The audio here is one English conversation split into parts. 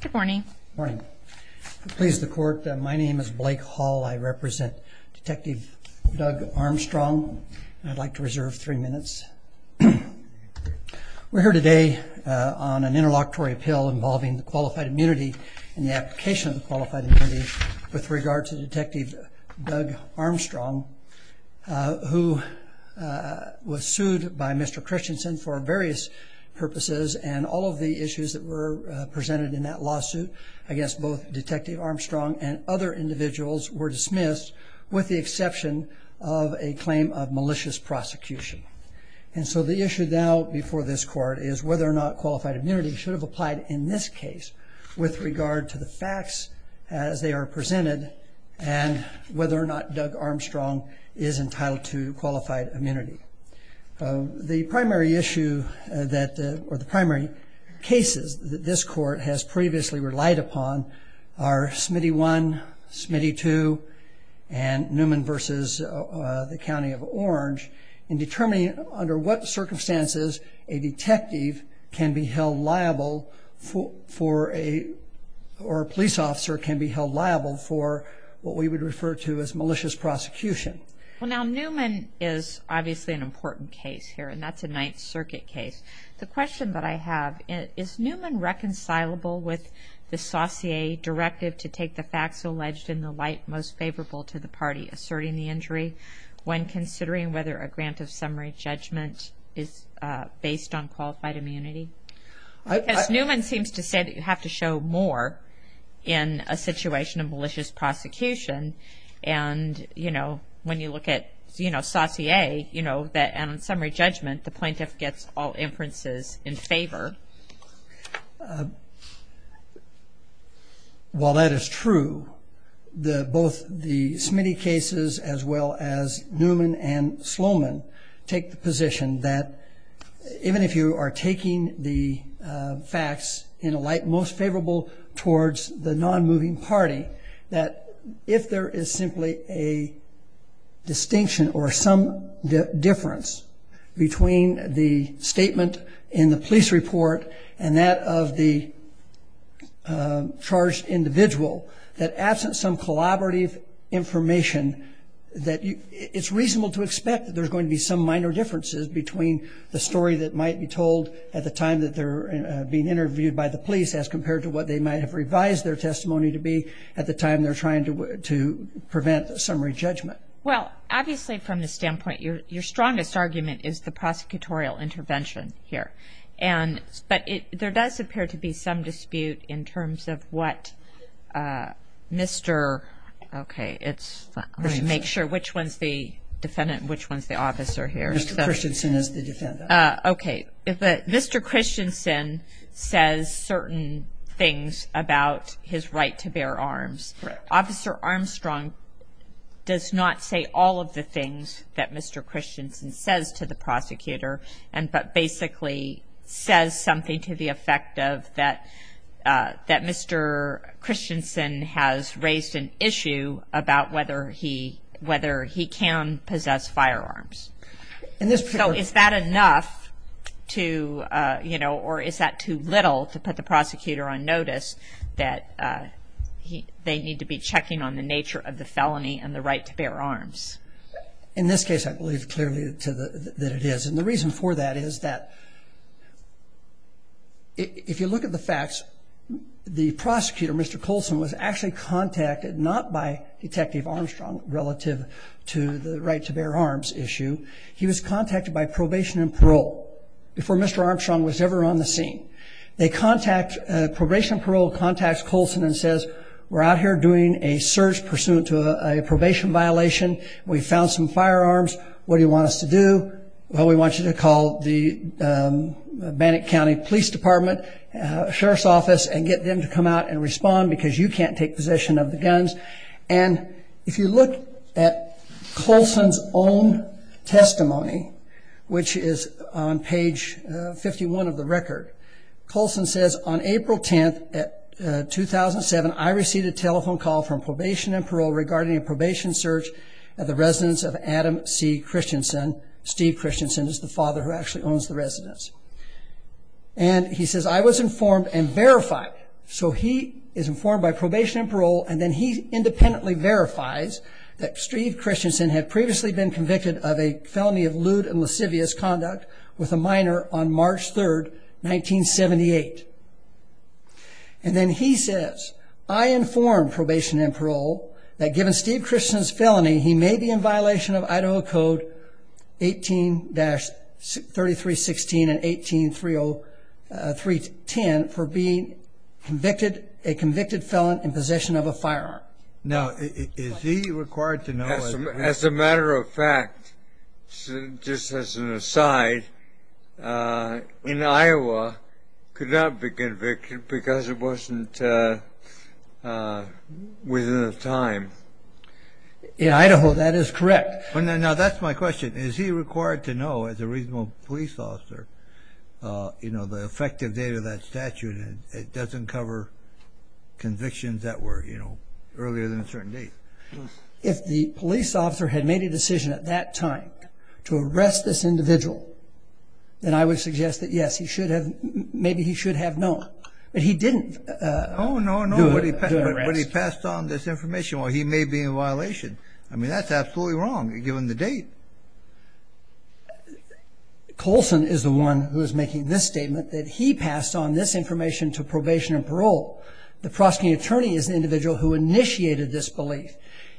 Good morning. Pleased the court. My name is Blake Hall. I represent Detective Doug Armstrong. I'd like to reserve three minutes. We're here today on an interlocutory appeal involving the qualified immunity and the application of the qualified immunity with regard to Detective Doug Armstrong, who was sued by Mr. Christensen for various purposes and all of the issues that were presented in that lawsuit against both Detective Armstrong and other individuals were dismissed with the exception of a claim of malicious prosecution. And so the issue now before this court is whether or not qualified immunity should have applied in this case with regard to the facts as they are presented and whether or not Doug Armstrong is entitled to qualified immunity. The primary issue that, or the primary cases that this court has previously relied upon are Smitty I, Smitty II, and Newman v. the County of Orange in determining under what circumstances a detective can be held liable for, or a police officer can be held liable for what we would refer to as malicious prosecution. Well, now Newman is obviously an important case here, and that's a Ninth Circuit case. The question that I have, is Newman reconcilable with the Saucier directive to take the facts alleged in the light most favorable to the party asserting the injury when considering whether a grant of summary judgment is based on qualified immunity? Because Newman seems to say that you have to show more in a situation of malicious prosecution and, you know, when you look at, you know, Saucier, you know, that on summary judgment the plaintiff gets all inferences in favor. Well, that is true. Both the Smitty cases as well as Newman and Sloman take the position that even if you are taking the facts in a light most favorable towards the non-moving party, that if there is simply a distinction or some difference between the statement in the police report and that of the charged individual, that absent some collaborative information, that it's reasonable to expect that there's going to be some minor differences between the story that might be told at the time that they're being interviewed by the police as compared to what they might have revised their testimony to be at the time they're trying to prevent summary judgment. Well, obviously, from the standpoint, your strongest argument is the prosecutorial intervention here. But there does appear to be some dispute in terms of what Mr. Okay, let me make sure which one's the defendant and which one's the officer here. Mr. Christensen is the defendant. Okay. Mr. Christensen says certain things about his right to bear arms. Officer Armstrong does not say all of the things that Mr. Christensen says to the prosecutor, but basically says something to the effect that Mr. Christensen has raised an issue about whether he can possess firearms. So is that enough to, you know, or is that too little to put the prosecutor on notice that they need to be checking on the nature of the felony and the right to bear arms? In this case, I believe clearly that it is. And the reason for that is that if you look at the facts, the prosecutor, Mr. Colson was actually contacted not by Detective Armstrong relative to the right to bear arms issue. He was contacted by probation and parole before Mr. Armstrong was ever on the scene. They contact probation and parole contacts Colson and says, we're out here doing a search pursuant to a probation violation. We found some firearms. What do you want us to do? Well, we want you to call the Bannock County Police Department Sheriff's Office and get them to come out and respond because you can't take possession of the guns. And if you look at Colson's own testimony, which is on page 51 of the record, Colson says, on April 10th, 2007, I received a telephone call from probation and parole regarding a probation search at the residence of Adam C. Christensen. Steve Christensen is the father who actually owns the residence. And he says, I was informed and verified. So he is informed by probation and parole, and then he independently verifies that Steve Christensen had previously been convicted of a felony of lewd and lascivious conduct with a minor on March 3rd, 1978. And then he says, I informed probation and parole that given Steve Christensen's felony, he may be in violation of Idaho Code 18-3316 and 18-30310 for being a convicted felon in possession of a firearm. Now, is he required to know? As a matter of fact, just as an aside, in Iowa, could not be convicted because it wasn't within the time. In Idaho, that is correct. Now, that's my question. Is he required to know as a reasonable police officer, you know, the effective date of that statute? It doesn't cover convictions that were, you know, earlier than a certain date. If the police officer had made a decision at that time to arrest this individual, then I would suggest that, yes, he should have, maybe he should have known. But he didn't. Oh, no, no. When he passed on this information, well, he may be in violation. I mean, that's absolutely wrong given the date. Colson is the one who is making this statement that he passed on this information to probation and parole. The prosecuting attorney is the individual who initiated this belief.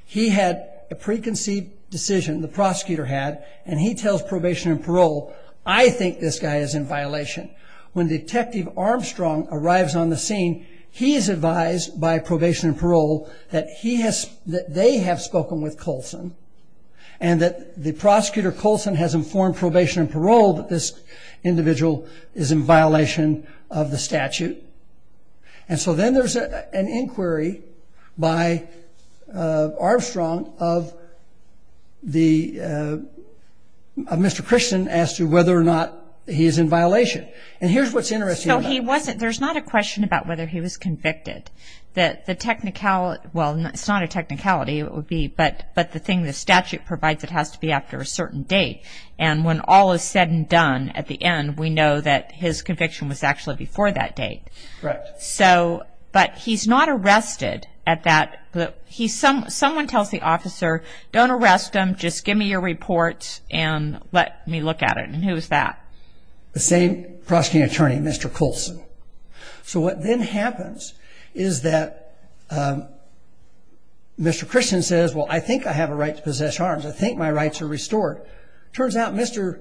He had a preconceived decision, the prosecutor had, and he tells probation and parole, I think this guy is in violation. When Detective Armstrong arrives on the scene, he is advised by probation and parole that he has, that they have spoken with Colson and that the prosecutor, Colson, has informed probation and parole that this individual is in violation of the statute. And so then there's an inquiry by Armstrong of the, of Mr. Christian, as to whether or not he is in violation. And here's what's interesting about this. So he wasn't, there's not a question about whether he was convicted. The technicality, well, it's not a technicality, it would be, but the thing the statute provides it has to be after a certain date. And when all is said and done at the end, we know that his conviction was actually before that date. Correct. So, but he's not arrested at that, he's, someone tells the officer, don't arrest him, just give me your report and let me look at it. And who's that? The same prosecuting attorney, Mr. Colson. So what then happens is that Mr. Christian says, well, I think I have a right to possess arms. I think my rights are restored. Turns out Mr.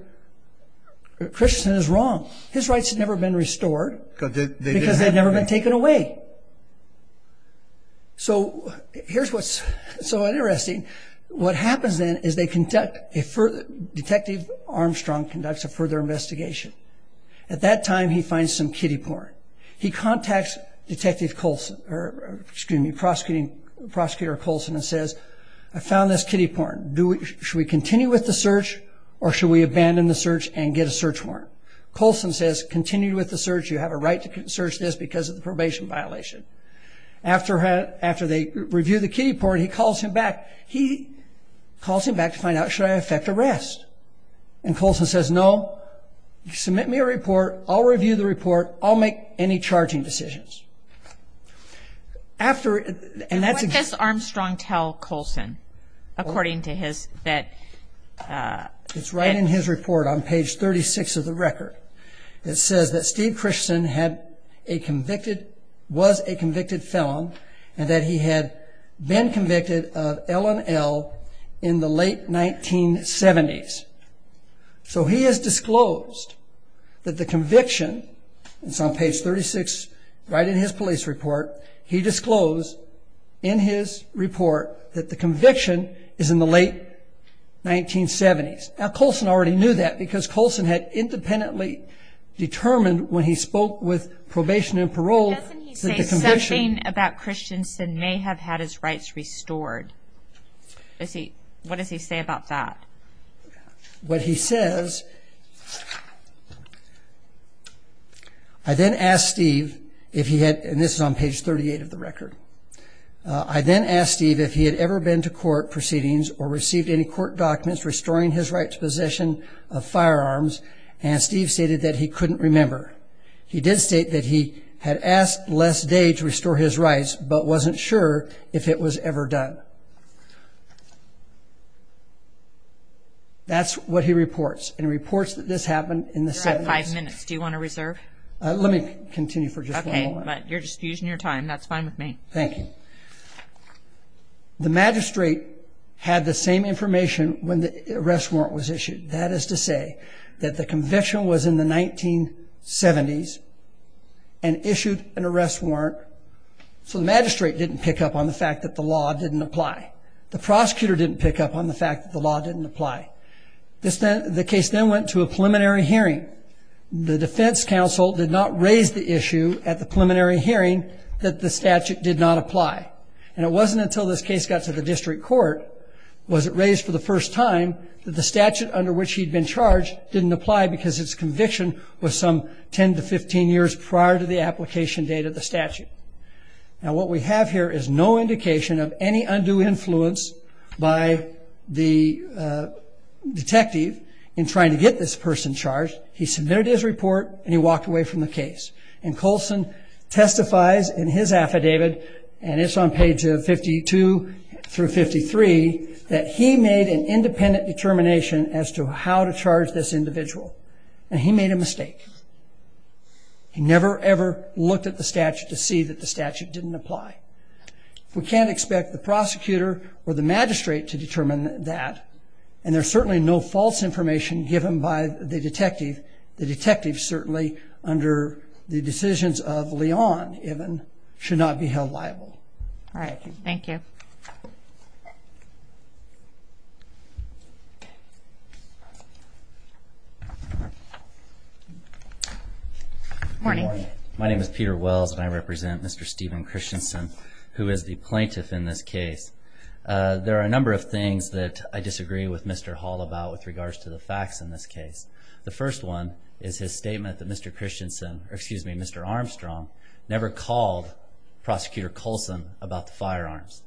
Christian is wrong. His rights had never been restored because they'd never been taken away. So here's what's so interesting. What happens then is they conduct a further, Detective Armstrong conducts a further investigation. At that time he finds some kiddie porn. He contacts Detective Colson, or excuse me, Prosecutor Colson and says, I found this kiddie porn. Should we continue with the search or should we abandon the search and get a search warrant? Colson says, continue with the search. You have a right to search this because of the probation violation. After they review the kiddie porn, he calls him back. He calls him back to find out, should I affect arrest? And Colson says, no, submit me a report. I'll review the report. I'll make any charging decisions. And what does Armstrong tell Colson, according to his, that? It's right in his report on page 36 of the record. It says that Steve Christian had a convicted, was a convicted felon, and that he had been convicted of L&L in the late 1970s. So he has disclosed that the conviction, it's on page 36, right in his police report, he disclosed in his report that the conviction is in the late 1970s. Now, Colson already knew that because Colson had independently determined when he spoke with probation and parole that the conviction. Doesn't he say something about Christianson may have had his rights restored? What does he say about that? What he says, I then asked Steve if he had, and this is on page 38 of the record, I then asked Steve if he had ever been to court proceedings or received any court documents restoring his rights possession of firearms, and Steve stated that he couldn't remember. He did state that he had asked Les Day to restore his rights but wasn't sure if it was ever done. That's what he reports and reports that this happened in the 70s. You have five minutes. Do you want to reserve? Let me continue for just one moment. Okay, but you're just using your time. That's fine with me. Thank you. The magistrate had the same information when the arrest warrant was issued. That is to say that the conviction was in the 1970s and issued an arrest warrant so the magistrate didn't pick up on the fact that the law didn't apply. The prosecutor didn't pick up on the fact that the law didn't apply. The case then went to a preliminary hearing. The defense counsel did not raise the issue at the preliminary hearing that the statute did not apply, and it wasn't until this case got to the district court was it raised for the first time that the statute under which he'd been charged didn't apply because its conviction was some 10 to 15 years prior to the application date of the statute. Now, what we have here is no indication of any undue influence by the detective in trying to get this person charged. He submitted his report, and he walked away from the case. And Colson testifies in his affidavit, and it's on pages 52 through 53, that he made an independent determination as to how to charge this individual, and he made a mistake. He never, ever looked at the statute to see that the statute didn't apply. We can't expect the prosecutor or the magistrate to determine that, and there's certainly no false information given by the detective. The detective certainly, under the decisions of Leon, even, should not be held liable. All right. Thank you. Good morning. My name is Peter Wells, and I represent Mr. Stephen Christensen, who is the plaintiff in this case. There are a number of things that I disagree with Mr. Hall about with regards to the facts in this case. The first one is his statement that Mr. Christensen, or excuse me, Mr. Armstrong, never called Prosecutor Colson about the firearms.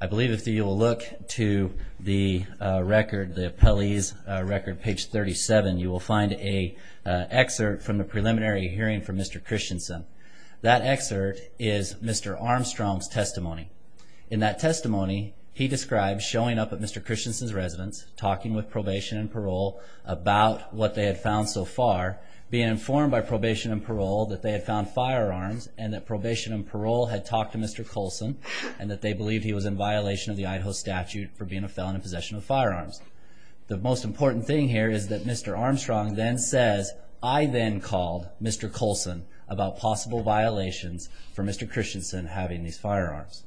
I believe if you will look to the record, the appellee's record, page 37, you will find an excerpt from the preliminary hearing from Mr. Christensen. That excerpt is Mr. Armstrong's testimony. In that testimony, he describes showing up at Mr. Christensen's residence, talking with probation and parole about what they had found so far, being informed by probation and parole that they had found firearms and that probation and parole had talked to Mr. Colson and that they believed he was in violation of the Idaho statute for being a felon in possession of firearms. The most important thing here is that Mr. Armstrong then says, I then called Mr. Colson about possible violations for Mr. Christensen having these firearms.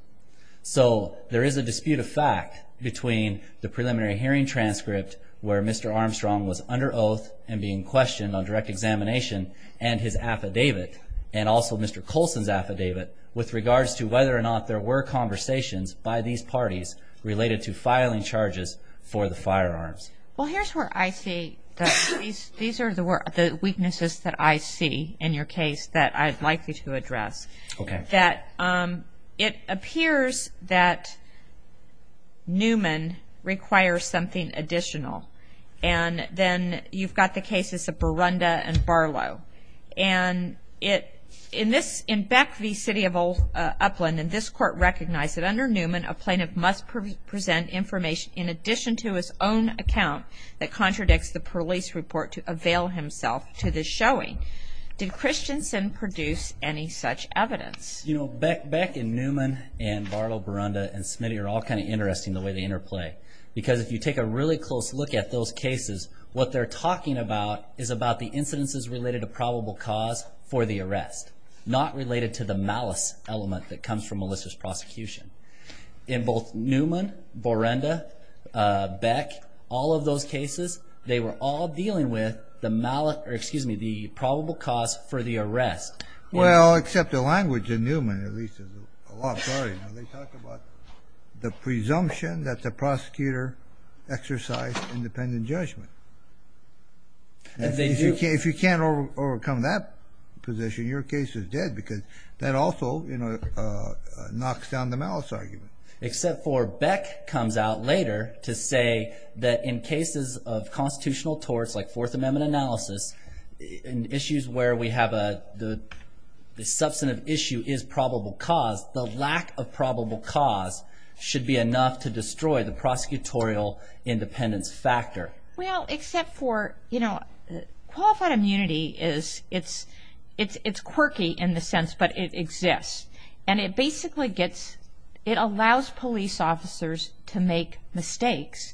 So there is a dispute of fact between the preliminary hearing transcript where Mr. Armstrong was under oath and being questioned on direct examination and his affidavit, and also Mr. Colson's affidavit, with regards to whether or not there were conversations by these parties related to filing charges for the firearms. Well, here's where I see that these are the weaknesses that I see in your case that I'd like you to address. It appears that Newman requires something additional, and then you've got the cases of Burunda and Barlow. And in Beck v. City of Upland, this court recognized that under Newman, a plaintiff must present information in addition to his own account that contradicts the police report to avail himself to the showing. Did Christensen produce any such evidence? You know, Beck and Newman and Barlow, Burunda, and Smitty are all kind of interesting the way they interplay. Because if you take a really close look at those cases, what they're talking about is about the incidences related to probable cause for the arrest, not related to the malice element that comes from Melissa's prosecution. In both Newman, Burunda, Beck, all of those cases, they were all dealing with the probable cause for the arrest. Well, except the language in Newman, at least, is a lot harder. They talk about the presumption that the prosecutor exercised independent judgment. If you can't overcome that position, your case is dead because that also knocks down the malice argument. Except for Beck comes out later to say that in cases of constitutional torts, like Fourth Amendment analysis, in issues where we have the substantive issue is probable cause, the lack of probable cause should be enough to destroy the prosecutorial independence factor. Well, except for, you know, qualified immunity is, it's quirky in the sense, but it exists. And it basically gets, it allows police officers to make mistakes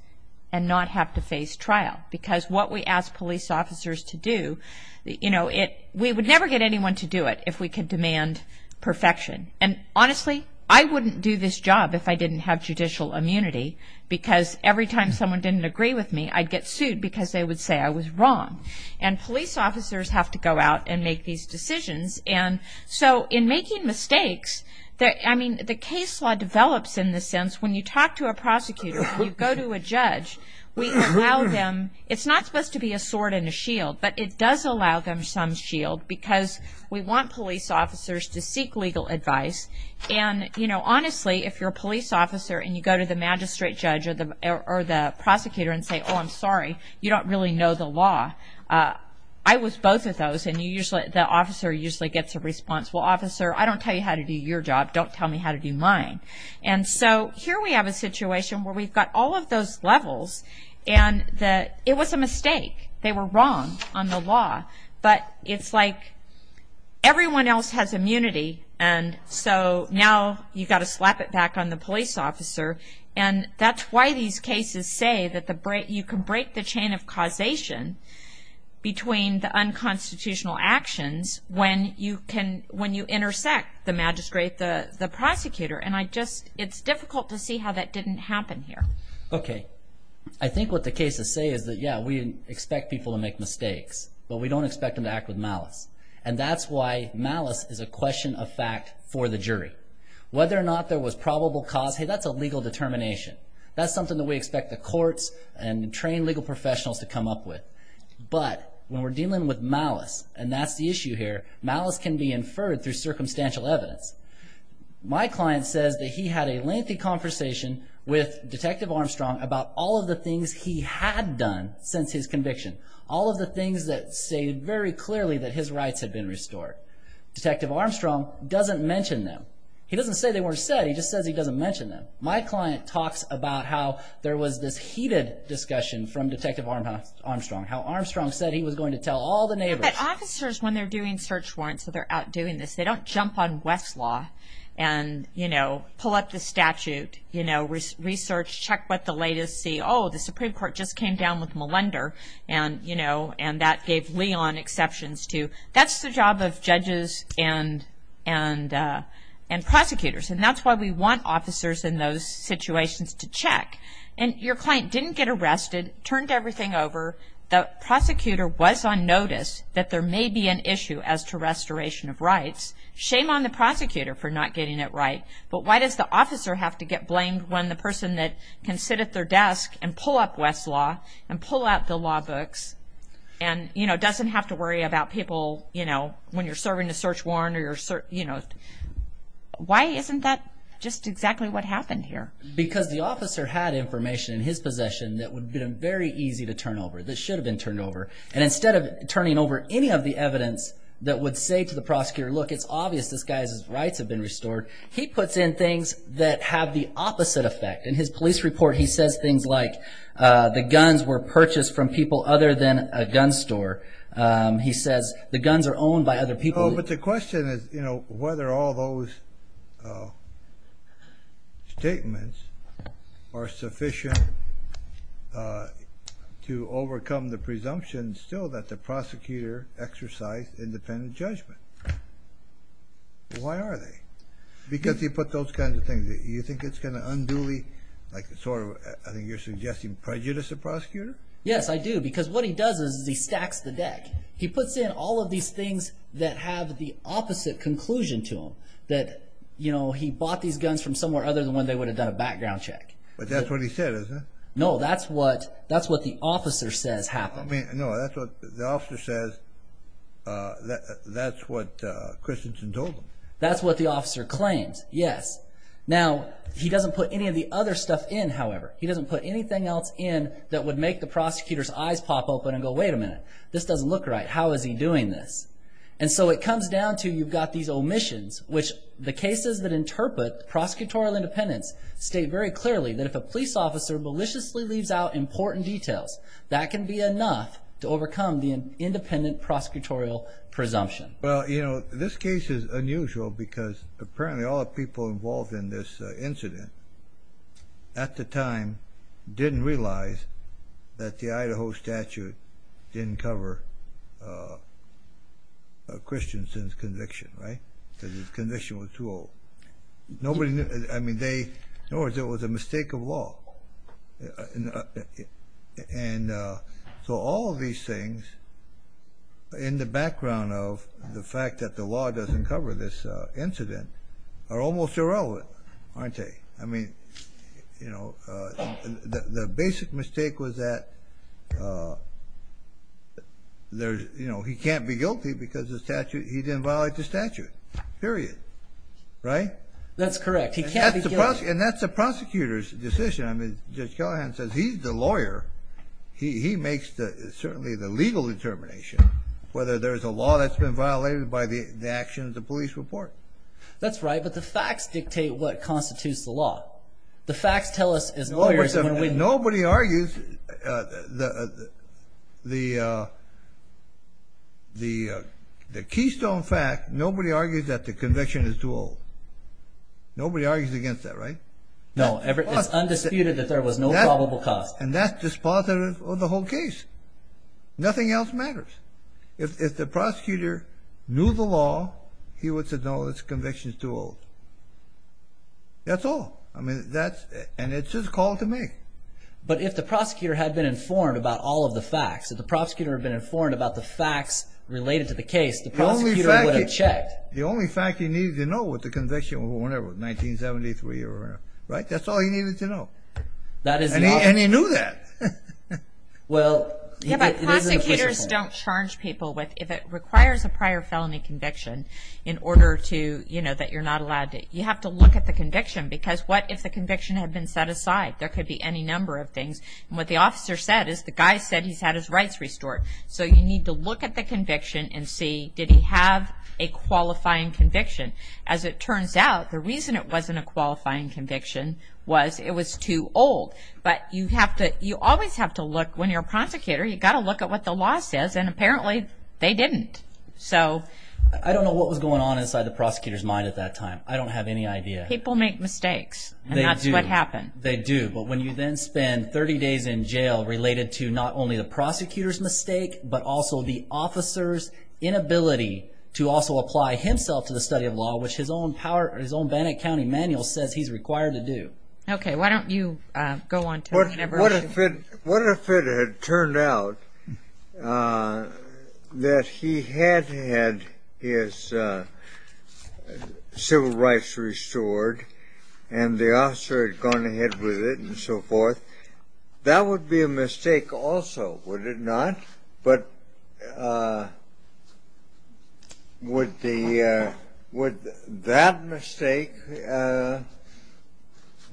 and not have to face trial. Because what we ask police officers to do, you know, we would never get anyone to do it if we could demand perfection. And honestly, I wouldn't do this job if I didn't have judicial immunity because every time someone didn't agree with me, I'd get sued because they would say I was wrong. And police officers have to go out and make these decisions. And so in making mistakes, I mean, the case law develops in the sense when you talk to a prosecutor, you go to a judge, we allow them, it's not supposed to be a sword and a shield, but it does allow them some shield because we want police officers to seek legal advice. And, you know, honestly, if you're a police officer and you go to the magistrate judge or the prosecutor and say, oh, I'm sorry, you don't really know the law. I was both of those. And the officer usually gets a response, well, officer, I don't tell you how to do your job. Don't tell me how to do mine. And so here we have a situation where we've got all of those levels. And it was a mistake. They were wrong on the law. But it's like everyone else has immunity. And so now you've got to slap it back on the police officer. And that's why these cases say that you can break the chain of causation between the unconstitutional actions when you intersect the magistrate, the prosecutor. And it's difficult to see how that didn't happen here. Okay. I think what the cases say is that, yeah, we expect people to make mistakes, but we don't expect them to act with malice. And that's why malice is a question of fact for the jury. Whether or not there was probable cause, hey, that's a legal determination. That's something that we expect the courts and trained legal professionals to come up with. But when we're dealing with malice, and that's the issue here, malice can be inferred through circumstantial evidence. My client says that he had a lengthy conversation with Detective Armstrong about all of the things he had done since his conviction, all of the things that stated very clearly that his rights had been restored. Detective Armstrong doesn't mention them. He doesn't say they weren't said. He just says he doesn't mention them. My client talks about how there was this heated discussion from Detective Armstrong, how Armstrong said he was going to tell all the neighbors. But officers, when they're doing search warrants, so they're out doing this, they don't jump on Westlaw and pull up the statute, research, check what the latest, see, oh, the Supreme Court just came down with Malender, and that gave Leon exceptions too. That's the job of judges and prosecutors. And that's why we want officers in those situations to check. And your client didn't get arrested, turned everything over. The prosecutor was on notice that there may be an issue as to restoration of rights. Shame on the prosecutor for not getting it right. But why does the officer have to get blamed when the person that can sit at their desk and pull up Westlaw and pull out the law books and doesn't have to worry about people when you're serving a search warrant? Why isn't that just exactly what happened here? Because the officer had information in his possession that would have been very easy to turn over, that should have been turned over. And instead of turning over any of the evidence that would say to the prosecutor, look, it's obvious this guy's rights have been restored, he puts in things that have the opposite effect. In his police report, he says things like, the guns were purchased from people other than a gun store. He says the guns are owned by other people. But the question is whether all those statements are sufficient to overcome the presumption still that the prosecutor exercised independent judgment. Why are they? Because he put those kinds of things. You think it's going to unduly... I think you're suggesting prejudice of the prosecutor? Yes, I do, because what he does is he stacks the deck. He puts in all of these things that have the opposite conclusion to them. That he bought these guns from somewhere other than when they would have done a background check. But that's what he said, isn't it? No, that's what the officer says happened. No, the officer says that's what Christensen told him. That's what the officer claims, yes. Now, he doesn't put any of the other stuff in, however. He doesn't put anything else in that would make the prosecutor's eyes pop open and go, wait a minute, this doesn't look right. How is he doing this? And so it comes down to you've got these omissions, which the cases that interpret prosecutorial independence state very clearly that if a police officer maliciously leaves out important details, that can be enough to overcome the independent prosecutorial presumption. Well, you know, this case is unusual, because apparently all the people involved in this incident at the time didn't realize that the Idaho statute didn't cover Christensen's conviction, right? Because his conviction was too old. I mean, in other words, it was a mistake of law. And so all of these things, in the background of the fact that the law doesn't cover this incident, are almost irrelevant, aren't they? I mean, the basic mistake was that he can't be guilty because he didn't violate the statute, period, right? That's correct. He can't be guilty. And that's the prosecutor's decision. I mean, Judge Callahan says he's the lawyer. He makes certainly the legal determination, whether there's a law that's been violated by the actions of the police report. That's right, but the facts dictate what constitutes the law. The facts tell us as lawyers when we… Nobody argues the keystone fact. Nobody argues that the conviction is too old. Nobody argues against that, right? No, it's undisputed that there was no probable cause. And that's dispositive of the whole case. Nothing else matters. If the prosecutor knew the law, he would say, no, this conviction is too old. That's all. And it's his call to make. But if the prosecutor had been informed about all of the facts, if the prosecutor had been informed about the facts related to the case, the prosecutor would have checked. The only fact he needed to know was the conviction or whatever, 1973 or whatever, right? That's all he needed to know. And he knew that. Prosecutors don't charge people if it requires a prior felony conviction in order to, you know, that you're not allowed to. You have to look at the conviction because what if the conviction had been set aside? There could be any number of things. And what the officer said is the guy said he's had his rights restored. So you need to look at the conviction and see, did he have a qualifying conviction? As it turns out, the reason it wasn't a qualifying conviction was it was too old. But you always have to look when you're a prosecutor, you've got to look at what the law says, and apparently they didn't. I don't know what was going on inside the prosecutor's mind at that time. I don't have any idea. People make mistakes, and that's what happened. They do. But when you then spend 30 days in jail related to not only the prosecutor's mistake but also the officer's inability to also apply himself to the study of law, which his own Bannock County manual says he's required to do. Okay, why don't you go on. What if it had turned out that he had had his civil rights restored and the officer had gone ahead with it and so forth? That would be a mistake also, would it not? But would that mistake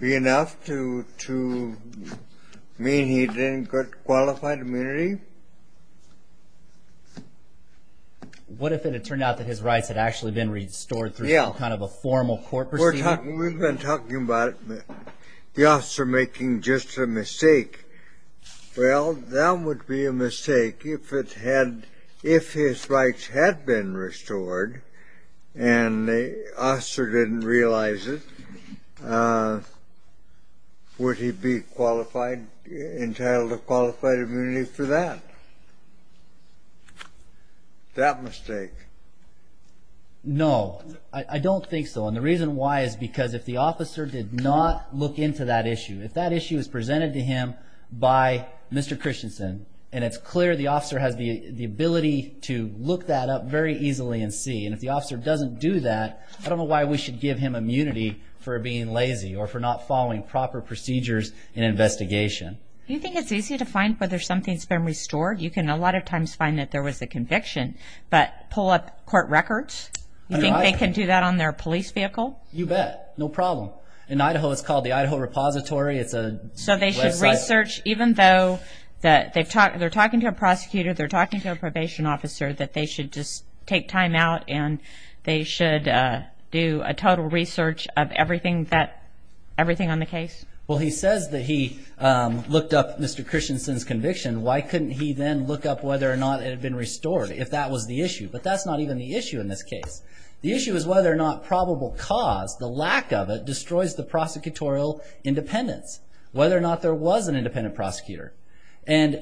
be enough to mean he didn't get qualified immunity? What if it had turned out that his rights had actually been restored through kind of a formal court procedure? We've been talking about the officer making just a mistake. Well, that would be a mistake. If his rights had been restored and the officer didn't realize it, would he be entitled to qualified immunity for that? That mistake. No, I don't think so. And the reason why is because if the officer did not look into that issue, if that issue is presented to him by Mr. Christensen, and it's clear the officer has the ability to look that up very easily and see, and if the officer doesn't do that, I don't know why we should give him immunity for being lazy or for not following proper procedures in investigation. Do you think it's easy to find whether something's been restored? You can a lot of times find that there was a conviction, but pull up court records? You think they can do that on their police vehicle? You bet, no problem. In Idaho it's called the Idaho Repository. So they should research, even though they're talking to a prosecutor, they're talking to a probation officer, that they should just take time out and they should do a total research of everything on the case? Well, he says that he looked up Mr. Christensen's conviction. Why couldn't he then look up whether or not it had been restored? If that was the issue. But that's not even the issue in this case. The issue is whether or not probable cause, the lack of it, destroys the prosecutorial independence. Whether or not there was an independent prosecutor. And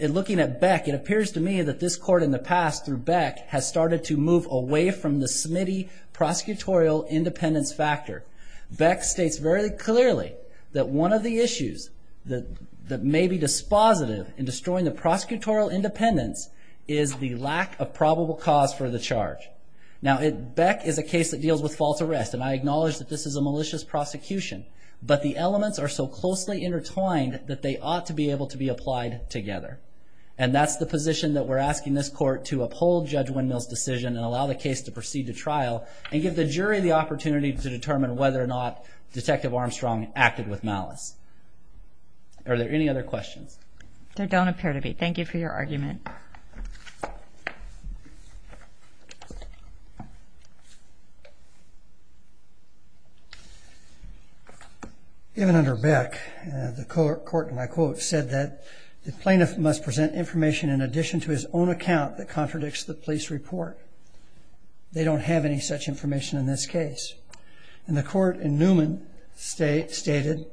looking at Beck, it appears to me that this court in the past, through Beck, has started to move away from the Smitty prosecutorial independence factor. Beck states very clearly that one of the issues that may be dispositive in destroying the prosecutorial independence is the lack of probable cause for the charge. Now, Beck is a case that deals with false arrest, and I acknowledge that this is a malicious prosecution. But the elements are so closely intertwined that they ought to be able to be applied together. And that's the position that we're asking this court to uphold Judge Windmill's decision and allow the case to proceed to trial and give the jury the opportunity to determine whether or not Detective Armstrong acted with malice. Are there any other questions? There don't appear to be. Thank you for your argument. Even under Beck, the court, and I quote, said that the plaintiff must present information in addition to his own account that contradicts the police report. They don't have any such information in this case. And the court in Newman stated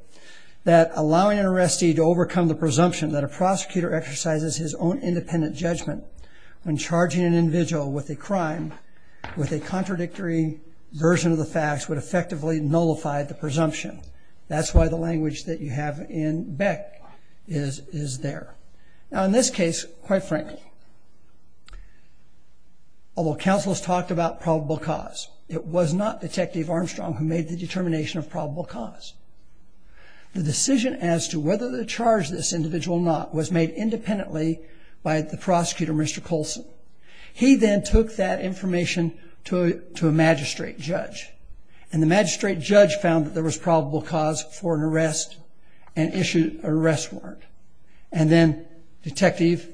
that allowing an arrestee to overcome the presumption that a prosecutor exercises his own independent judgment when charging an individual with a crime with a contradictory version of the facts would effectively nullify the presumption. That's why the language that you have in Beck is there. Now, in this case, quite frankly, although counsel has talked about probable cause, it was not Detective Armstrong who made the determination of probable cause. The decision as to whether to charge this individual or not was made independently by the prosecutor, Mr. Colson. He then took that information to a magistrate judge, and the magistrate judge found that there was probable cause for an arrest and issued an arrest warrant. And then Detective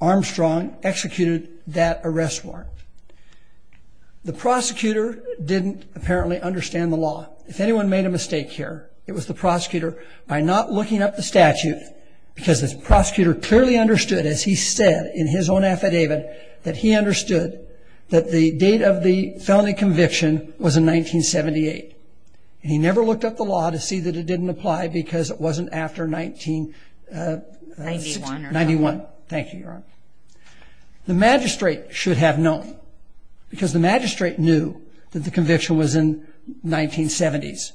Armstrong executed that arrest warrant. The prosecutor didn't apparently understand the law. If anyone made a mistake here, it was the prosecutor by not looking up the statute, because the prosecutor clearly understood, as he said in his own affidavit, that he understood that the date of the felony conviction was in 1978. He never looked up the law to see that it didn't apply because it wasn't after 1991. Thank you, Your Honor. The magistrate should have known, because the magistrate knew that the conviction was in 1970s.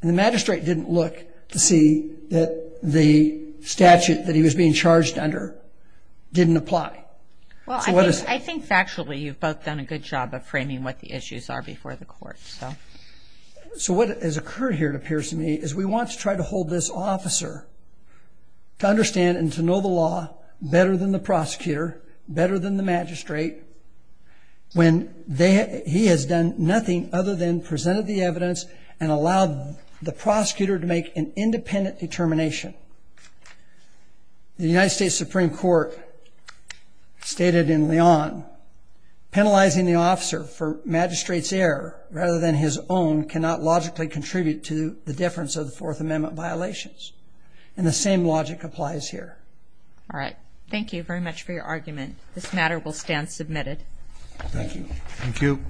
And the magistrate didn't look to see that the statute that he was being charged under didn't apply. Well, I think factually you've both done a good job of framing what the issues are before the court. So what has occurred here, it appears to me, is we want to try to hold this officer to understand and to know the law better than the prosecutor, better than the magistrate, when he has done nothing other than presented the evidence and allowed the prosecutor to make an independent determination. The United States Supreme Court stated in Leon, penalizing the officer for magistrate's error rather than his own cannot logically contribute to the difference of the Fourth Amendment violations. And the same logic applies here. All right. Thank you very much for your argument. This matter will stand submitted. Thank you. Thank you.